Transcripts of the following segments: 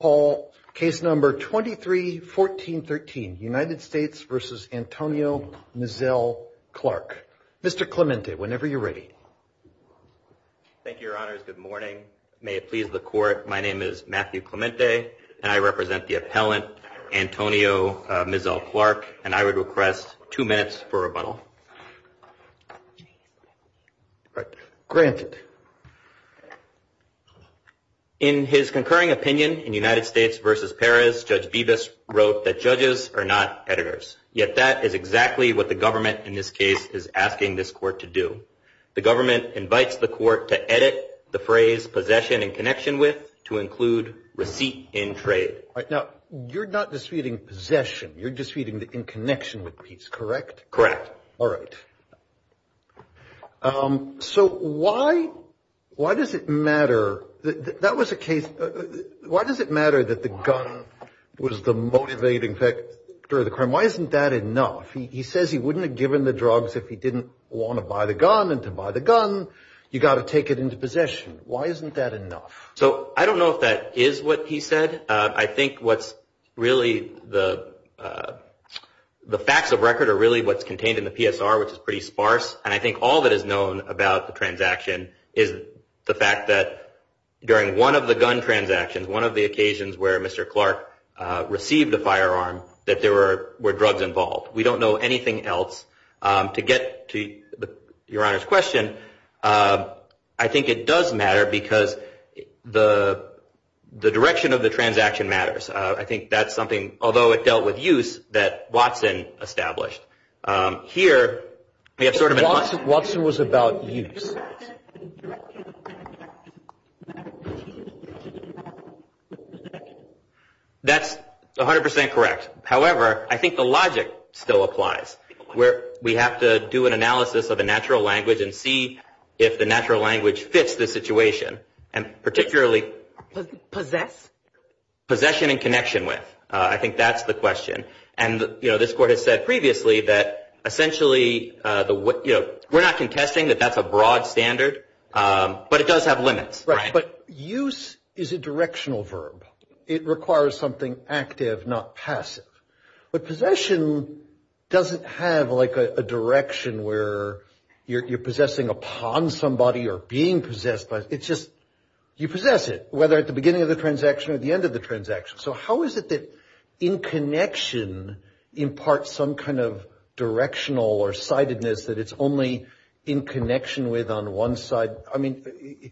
Paul, case number 23-14-13, United States v. Antonio Mizzell Clark. Mr. Clemente, whenever you're ready. Thank you, your honors. Good morning. May it please the court. My name is Matthew Clemente, and I represent the appellant, Antonio Mizzell Clark. And I would request two minutes for rebuttal. Granted, in his concurring opinion in United States v. Perez, Judge Bibas wrote that judges are not editors, yet that is exactly what the government in this case is asking this court to do. The government invites the court to edit the phrase possession in connection with, to include receipt in trade. Now, you're not disputing possession, you're disputing the in connection with piece, correct? Correct. All right. So, why does it matter that the gun was the motivating factor of the crime? Why isn't that enough? He says he wouldn't have given the drugs if he didn't want to buy the gun, and to buy the gun, you got to take it into possession. Why isn't that enough? So, I don't know if that is what he said. I think what's really the facts of record are really what's contained in the PSR, which is pretty sparse. And I think all that is known about the transaction is the fact that during one of the gun transactions, one of the occasions where Mr. Clark received a firearm, that there were drugs involved. We don't know anything else. To get to your Honor's question, I think it does matter because the direction of the transaction matters. I think that's something, although it dealt with use, that Watson established. Here, we have sort of a... Watson was about use. That's 100% correct. However, I think the logic still applies. We have to do an analysis of the natural language and see if the natural language fits the situation. And particularly... Possess? Possession and connection with. I think that's the question. And, you know, this Court has said previously that essentially, you know, we're not contesting that that's a broad standard, but it does have limits, right? But use is a directional verb. It requires something active, not passive. But possession doesn't have, like, a direction where you're possessing upon somebody or being possessed by... It's just, you possess it, whether at the beginning of the transaction or at the end of the transaction. So how is it that in connection imparts some kind of directional or sidedness that it's only in connection with on one side? I mean,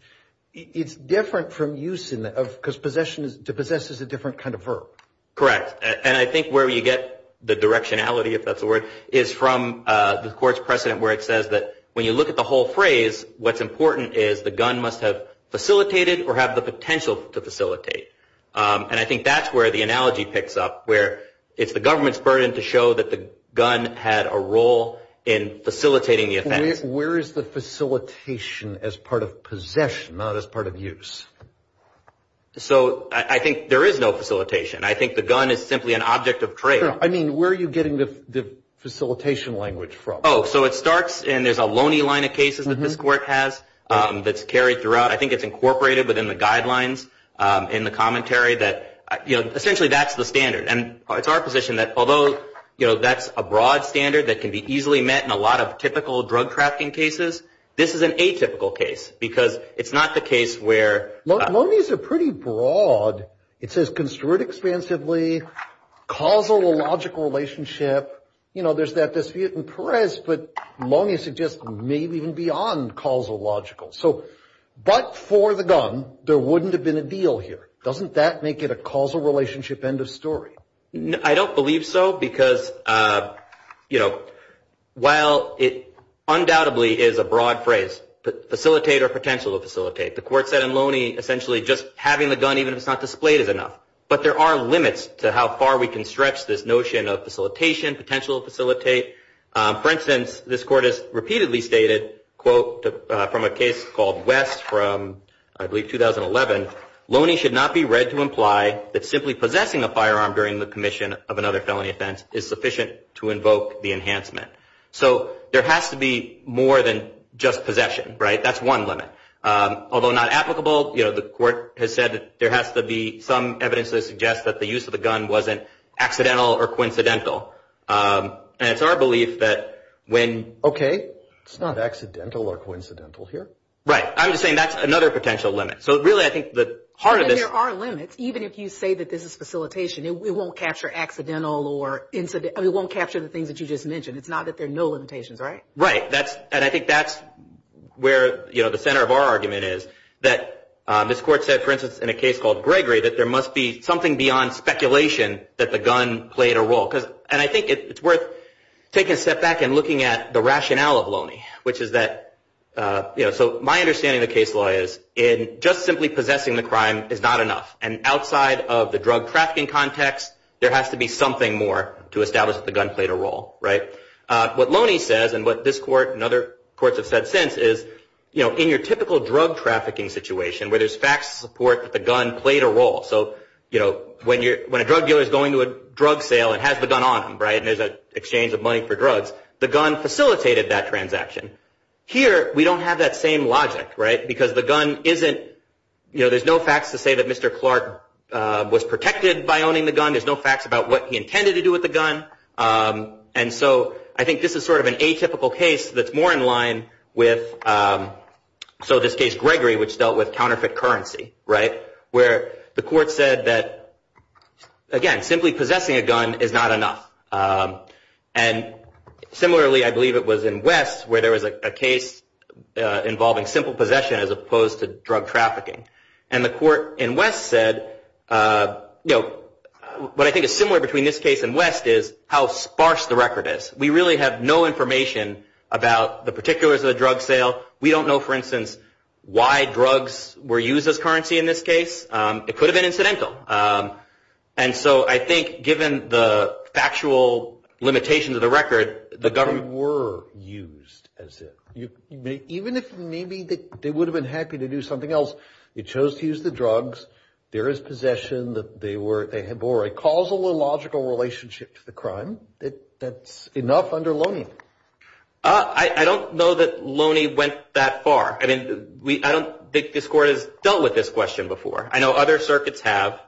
it's different from use in that of... Because possession is... To possess is a different kind of verb. Correct. And I think where you get the directionality, if that's the word, is from the Court's precedent where it says that when you look at the whole phrase, what's important is the gun must have facilitated or have the potential to facilitate. And I think that's where the analogy picks up, where it's the government's burden to show that the gun had a role in facilitating the offense. Where is the facilitation as part of possession, not as part of use? So I think there is no facilitation. I think the gun is simply an object of trade. I mean, where are you getting the facilitation language from? Oh, so it starts, and there's a loony line of cases that this Court has that's carried throughout. I think it's incorporated within the guidelines in the commentary that, you know, essentially that's the standard. And it's our position that although, you know, that's a broad standard that can be easily met in a lot of typical drug trafficking cases, this is an atypical case because it's not the case where... Looney's are pretty broad. It says construed expansively, causal or logical relationship. You know, there's that dispute in Perez, but Looney suggests maybe even beyond causal logical. So, but for the gun, there wouldn't have been a deal here. Doesn't that make it a causal relationship end of story? I don't believe so because, you know, while it undoubtedly is a broad phrase, facilitate or potential to facilitate, the Court said in Looney essentially just having the gun, even if it's not displayed, is enough. But there are limits to how far we can stretch this notion of facilitation, potential to facilitate. For instance, this Court has repeatedly stated, quote, from a case called West from, I believe, 2011, Looney should not be read to imply that simply possessing a firearm during the commission of another felony offense is sufficient to invoke the enhancement. So there has to be more than just possession, right? That's one limit. Although not applicable, you know, the Court has said there has to be some evidence that suggests that the use of the gun wasn't accidental or coincidental. And it's our belief that when... Okay, it's not accidental or coincidental here. Right. I'm just saying that's another potential limit. So really, I think the heart of this... But there are limits. Even if you say that this is facilitation, it won't capture accidental or incidental... It won't capture the things that you just mentioned. It's not that there are no limitations, right? Right. That's... And I think that's where, you know, the center of our argument is that this Court said, for instance, in a case called Gregory, that there must be something beyond speculation that the gun played a role. And I think it's worth taking a step back and looking at the rationale of Looney, which is that, you know, so my understanding of the case law is in just simply possessing the crime is not enough. And outside of the drug trafficking context, there has to be something more to establish that the gun played a role. Right? What Looney says and what this Court and other courts have said since is, you know, in your typical drug trafficking situation where there's facts to support that the gun played a role. So, you know, when a drug dealer is going to a drug sale and has the gun on him, right, and there's an exchange of money for drugs, the gun facilitated that transaction. Here, we don't have that same logic, right, because the gun isn't... You know, there's no facts to say that Mr. Clark was protected by owning the gun. There's no facts about what he intended to do with the gun. And so I think this is sort of an atypical case that's more in line with, so in this case, Gregory, which dealt with counterfeit currency, right, where the Court said that, again, simply possessing a gun is not enough. And similarly, I believe it was in West where there was a case involving simple possession as opposed to drug trafficking. And the Court in West said, you know, what I think is similar between this case and West is how sparse the record is. We really have no information about the particulars of the drug sale. We don't know, for instance, why drugs were used as currency in this case. It could have been incidental. And so I think, given the factual limitations of the record, the government... But they were used, as if. Even if maybe they would have been happy to do something else, they chose to use the drugs. There is possession that they were... They bore a causal or logical relationship to the crime. That's enough under Loney. I don't know that Loney went that far. I mean, I don't think this Court has dealt with this question before. I know other circuits have.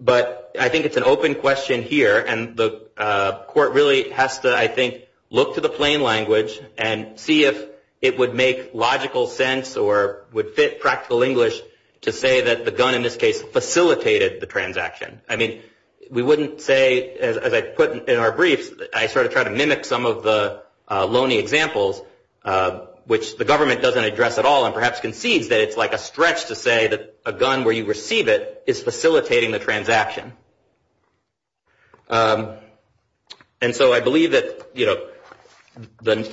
But I think it's an open question here. And the Court really has to, I think, look to the plain language and see if it would make logical sense or would fit practical English to say that the gun in this case facilitated the transaction. I mean, we wouldn't say, as I put in our briefs, I sort of try to mimic some of the Loney examples, which the government doesn't address at all. And perhaps concedes that it's like a stretch to say that a gun, where you receive it, is facilitating the transaction. And so I believe that the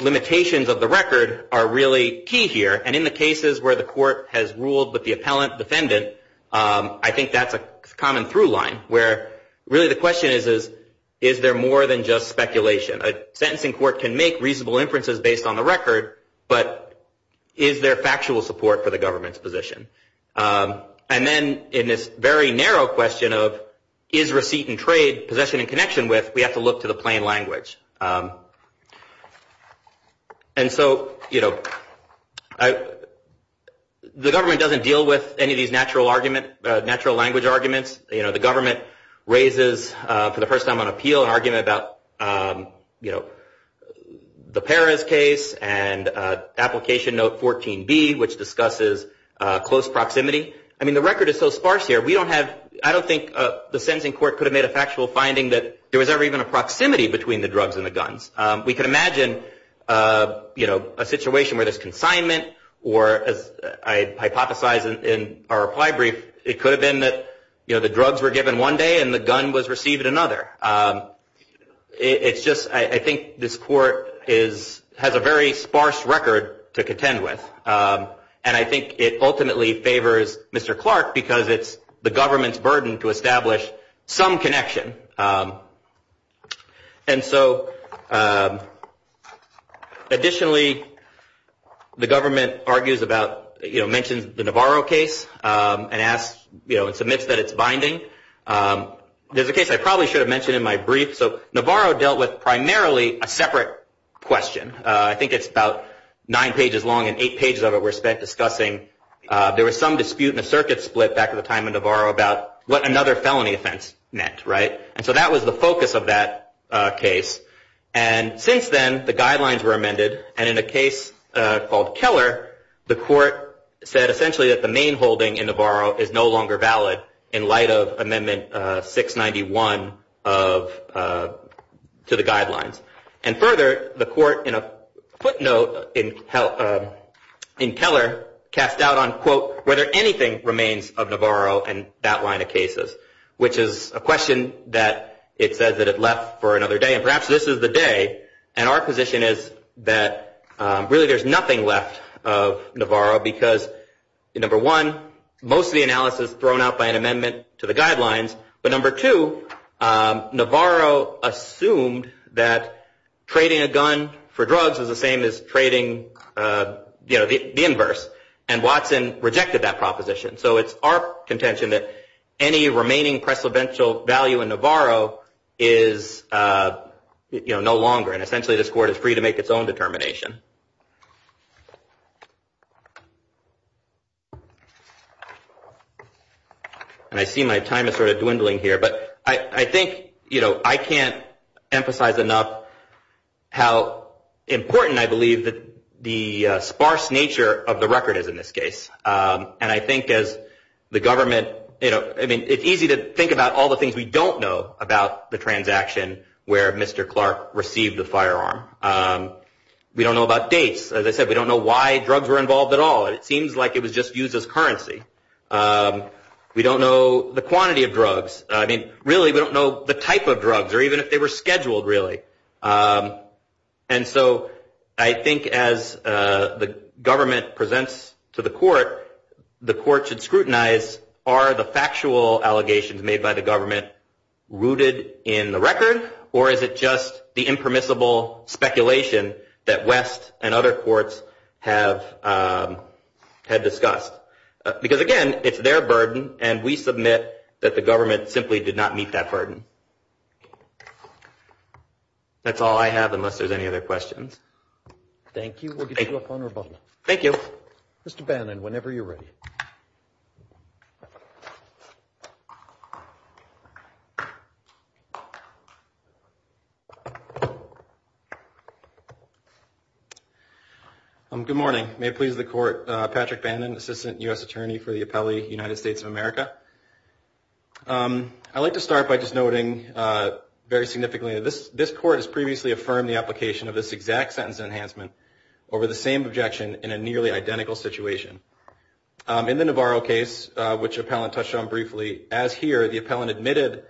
limitations of the record are really key here. And in the cases where the Court has ruled with the appellant defendant, I think that's a common through line. Where, really, the question is, is there more than just speculation? A sentencing court can make reasonable inferences based on the record. But is there factual support for the government's position? And then, in this very narrow question of, is receipt and trade possession in connection with, we have to look to the plain language. And so the government doesn't deal with any of these natural language arguments. The government raises, for the first time on appeal, an argument about the Perez case and application note 14B, which discusses close proximity. I mean, the record is so sparse here. We don't have, I don't think the sentencing court could have made a factual finding that there was ever even a proximity between the drugs and the guns. We could imagine a situation where there's consignment. Or, as I hypothesize in our reply brief, it could have been that the drugs were given one day and the gun was received another. It's just, I think this court has a very sparse record to contend with. And I think it ultimately favors Mr. Clark because it's the government's burden to establish some connection. And so, additionally, the government mentions the Navarro case and submits that it's binding. There's a case I probably should have mentioned in my brief. So Navarro dealt with primarily a separate question. I think it's about nine pages long and eight pages of it we're discussing. There was some dispute and a circuit split back in the time of Navarro about what another felony offense meant. And so that was the focus of that case. And since then, the guidelines were amended. And in a case called Keller, the court said essentially that the main holding in Navarro is no longer valid in light of Amendment 691 to the guidelines. And further, the court, in a footnote in Keller, cast doubt on, quote, whether anything remains of Navarro in that line of cases. Which is a question that it says that it left for another day. And perhaps this is the day. And our position is that really there's nothing left of Navarro because, number one, most of the analysis is thrown out by an amendment to the guidelines. But, number two, Navarro assumed that trading a gun for drugs is the same as trading, you know, the inverse. And Watson rejected that proposition. So it's our contention that any remaining precedential value in Navarro is, you know, no longer. And essentially this court is free to make its own determination. And I see my time is sort of dwindling here. But I think, you know, I can't emphasize enough how important I believe the sparse nature of the record is in this case. And I think as the government, you know, I mean, it's easy to think about all the things we don't know about the transaction where Mr. Clark received the firearm. We don't know about dates. As I said, we don't know why drugs were involved at all. It seems like it was just used as currency. We don't know the quantity of drugs. I mean, really, we don't know the type of drugs or even if they were scheduled, really. And so I think as the government presents to the court, the court should scrutinize are the factual allegations made by the government rooted in the record or is it just the impermissible speculation that West and other courts have discussed. Because again, it's their burden and we submit that the government simply did not meet that burden. That's all I have unless there's any other questions. Thank you. We'll get you up on rebuttal. Thank you. Mr. Bannon, whenever you're ready. Good morning. May it please the court. Patrick Bannon, Assistant U.S. Attorney for the Appellate United States of America. I'd like to start by just noting very significantly that this court has previously affirmed the application of this exact sentence enhancement over the same objection in a nearly identical situation. In the Navarro case, which the appellant touched on briefly, as here, the appellant admitted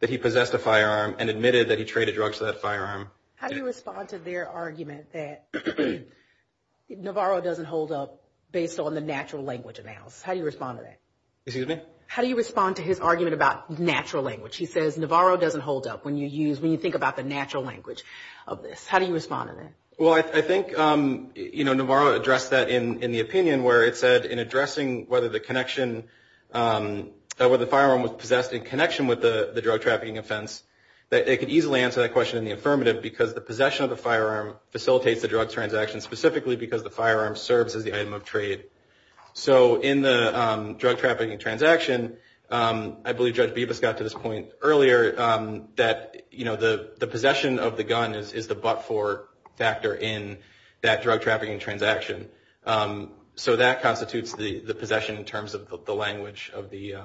that he possessed a firearm and admitted that he traded drugs for that firearm. How do you respond to their argument that Navarro doesn't hold up based on the natural language analysis? How do you respond to that? Excuse me? How do you respond to his argument about natural language? He says Navarro doesn't hold up when you use, when you think about the natural language of this. How do you respond to that? Well, I think, you know, Navarro addressed that in the opinion where it said in addressing whether the connection, whether the firearm was possessed in connection with the drug trafficking offense, that they could easily answer that question in the affirmative because the possession of the firearm facilitates the drug transaction specifically because the firearm serves as the item of trade. So in the drug trafficking transaction, I believe Judge Bibas got to this point earlier that, you know, the possession of the gun is the but-for factor in that drug trafficking transaction. So that constitutes the possession in terms of the language of the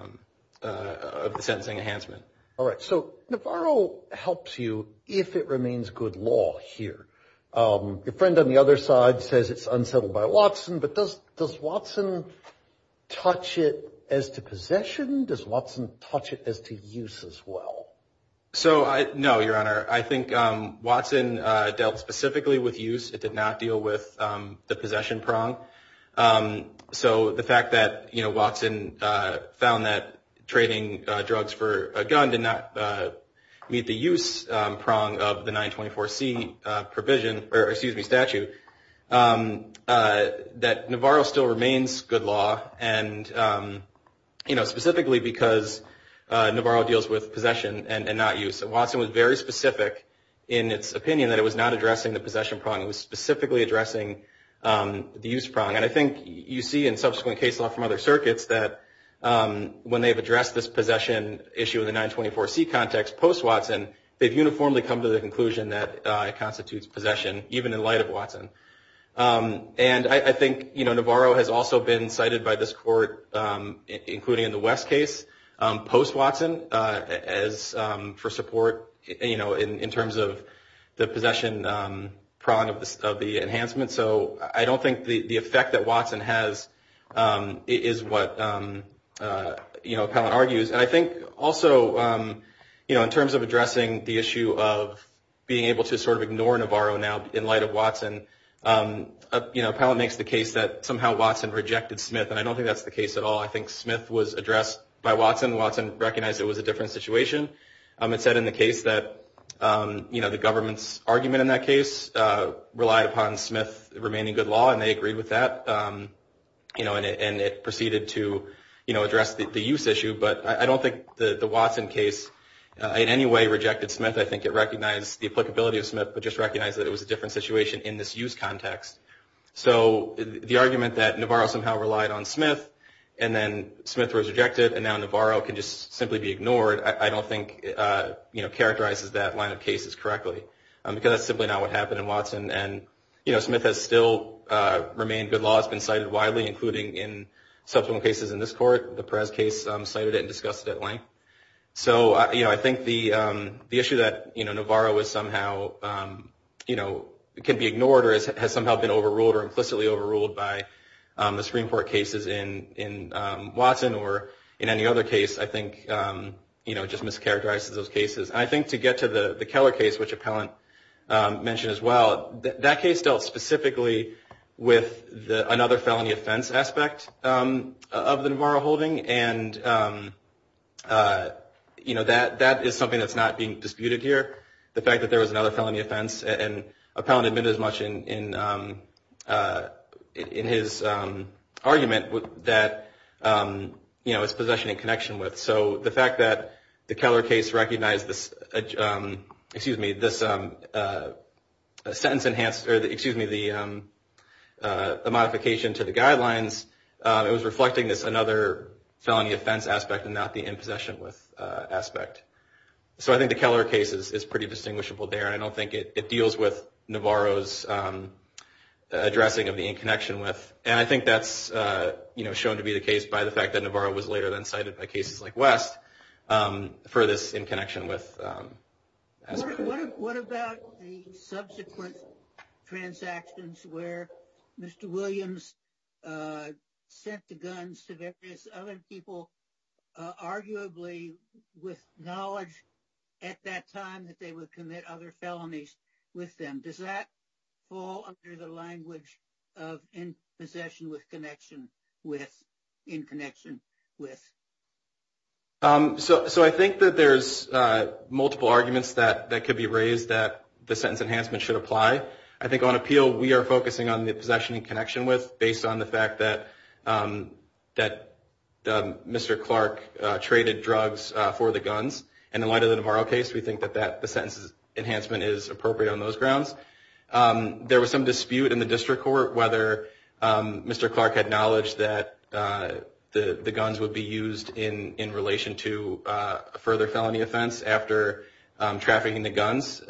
sentencing enhancement. All right. So Navarro helps you if it remains good law here. Your friend on the other side says it's unsettled by Watson, but does Watson touch it as to possession? Does Watson touch it as to use as well? So, no, Your Honor, I think Watson dealt specifically with use. It did not deal with the possession prong. So the fact that, you know, Watson found that trading drugs for a gun did not meet the use prong of the 924C provision, or excuse me, statute, that Navarro still remains good law and, you know, specifically because Navarro deals with possession and not use. And Watson was very specific in its opinion that it was not addressing the possession prong. It was specifically addressing the use prong. And I think you see in subsequent case law from other circuits that when they've addressed this possession issue in the 924C context, post-Watson, they've uniformly come to the conclusion that it constitutes possession, even in light of Watson. And I think, you know, Navarro has also been cited by this court, including in the West case, post-Watson, as for support, you know, in terms of the possession prong of the enhancement. So I don't think the effect that Watson has is what, you know, Appellant argues. And I think also, you know, in terms of addressing the issue of being able to sort of ignore Navarro now in light of Watson, you know, Appellant makes the case that somehow Watson rejected Smith, and I don't think that's the case at all. I think Smith was addressed by Watson. Watson recognized it was a different situation. It said in the case that, you know, the government's argument in that case relied upon Smith remaining good law, and they agreed with that, you know, and it proceeded to, you know, address the use issue. But I don't think the Watson case in any way rejected Smith. I think it recognized the applicability of Smith, but just recognized that it was a different situation in this use context. So the argument that Navarro somehow relied on Smith, and then Smith was rejected, and now Navarro can just simply be ignored, I don't think, you know, characterizes that line of cases correctly, because that's simply not what happened in Watson. And, you know, Smith has still remained good law. It's been cited widely, including in subsequent cases in this court. The Perez case cited it and discussed it at length. So, you know, I think the issue that, you know, Navarro was somehow, you know, can be ignored or has somehow been overruled or implicitly overruled by the Supreme Court cases in Watson or in any other case, I think, you know, just mischaracterizes those cases. I think to get to the Keller case, which Appellant mentioned as well, that case dealt specifically with another felony offense aspect of the Navarro holding, and, you know, that is something that's not being disputed here, the fact that there was another felony offense. And Appellant admitted as much in his argument that, you know, it's possession and connection with. So the fact that the Keller case recognized this, excuse me, this sentence enhanced, or excuse me, the modification to the guidelines, it was reflecting this another felony offense aspect and not the in possession with aspect. So I think the Keller case is pretty distinguishable there. I don't think it deals with Navarro's addressing of the in connection with. And I think that's, you know, shown to be the case by the fact that Navarro was later than cited by cases like West for this in connection with. What about the subsequent transactions where Mr. Williams sent the guns to various other people, arguably with knowledge at that time that they would commit other felonies with them? Does that fall under the language of in possession with connection with, in connection with? So I think that there's multiple arguments that could be raised that the sentence enhancement should apply. I think on appeal, we are focusing on the possession in connection with, based on the fact that Mr. Clark traded drugs for the guns. And in light of the Navarro case, we think that the sentence enhancement is appropriate on those grounds. There was some dispute in the district court whether Mr. Clark had knowledge that the guns would be used in relation to a further felony offense after trafficking the guns.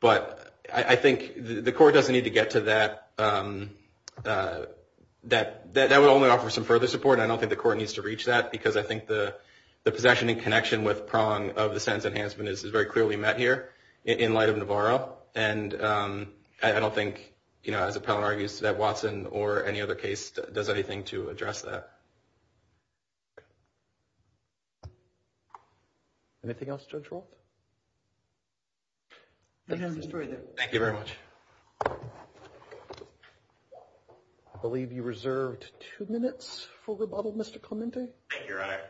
But I think the court doesn't need to get to that. That would only offer some further support. I don't think the court needs to reach that because I think the possession in connection with prong of the sentence enhancement is very clearly met here in light of Navarro. And I don't think, you know, as a felon argues, that Watson or any other case does anything to address that. Anything else, Judge Walt? Thank you very much. I believe you reserved two minutes for rebuttal, Mr. Clemente. Thank you, Your Honor.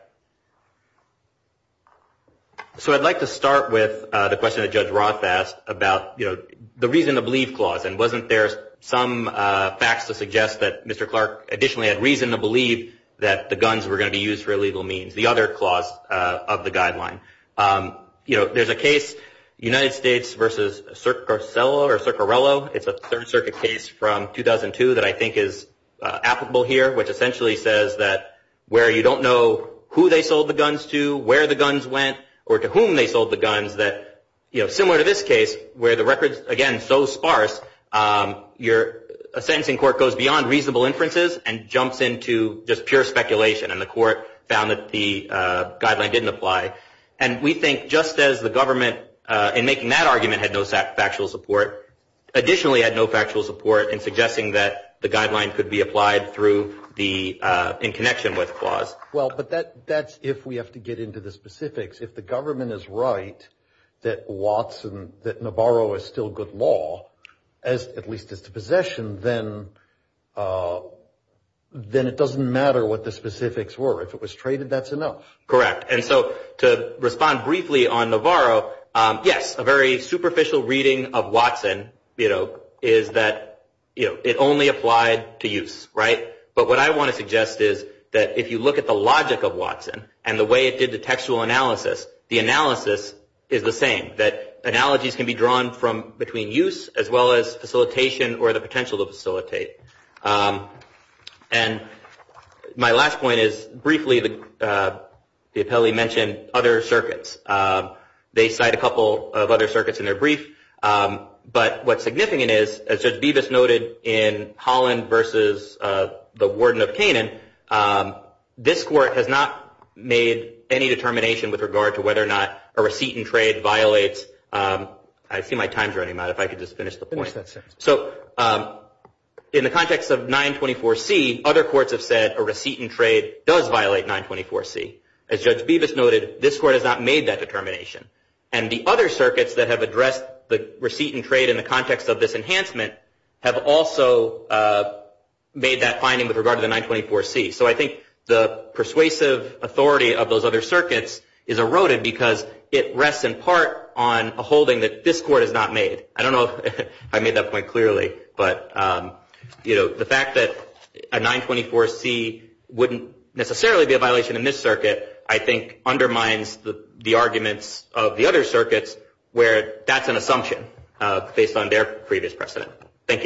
So I'd like to start with the question that Judge Roth asked about, you know, the reason to believe clause. And wasn't there some facts to suggest that Mr. Clark additionally had reason to believe that the guns were going to be used for illegal means, the other clause of the guideline? You know, there's a case, United States v. Circarillo. It's a Third Circuit case from 2002 that I think is applicable here, which essentially says that where you don't know who they sold the guns to, where the guns went, or to whom they sold the guns, that, you know, similar to this case, where the records, again, so sparse, a sentencing court goes beyond reasonable inferences and jumps into just pure speculation. And the court found that the guideline didn't apply. And we think just as the government, in making that argument, had no factual support, additionally had no factual support in suggesting that the guideline could be applied through the in connection with clause. Well, but that's if we have to get into the specifics. If the government is right that Watson, that Navarro is still good law, at least as to possession, then it doesn't matter what the guideline is. To respond briefly on Navarro, yes, a very superficial reading of Watson, you know, is that it only applied to use, right? But what I want to suggest is that if you look at the logic of Watson and the way it did the textual analysis, the analysis is the same, that analogies can be drawn from between use as well as facilitation or the potential to facilitate. And my last point is, briefly, the appellee mentioned other circuits. They cite a couple of other circuits in their brief. But what's significant is, as Judge Bevis noted in Holland versus the Warden of Canaan, this court has not made any determination with regard to whether or not a receipt in trade violates, I see my time's running out, if I could just finish the point. So in the context of 924C, other courts have said a receipt in trade does violate 924C. As Judge Bevis noted, this court has not made that determination. And the other circuits that have addressed the receipt in trade in the context of this enhancement have also made that finding with regard to the 924C. So I think the persuasive authority of those other circuits is eroded because it rests in part on a holding that this court has not made. I hope I made that point clearly. But, you know, the fact that a 924C wouldn't necessarily be a violation in this circuit, I think, undermines the arguments of the other circuits where that's an assumption based on their previous precedent. Thank you.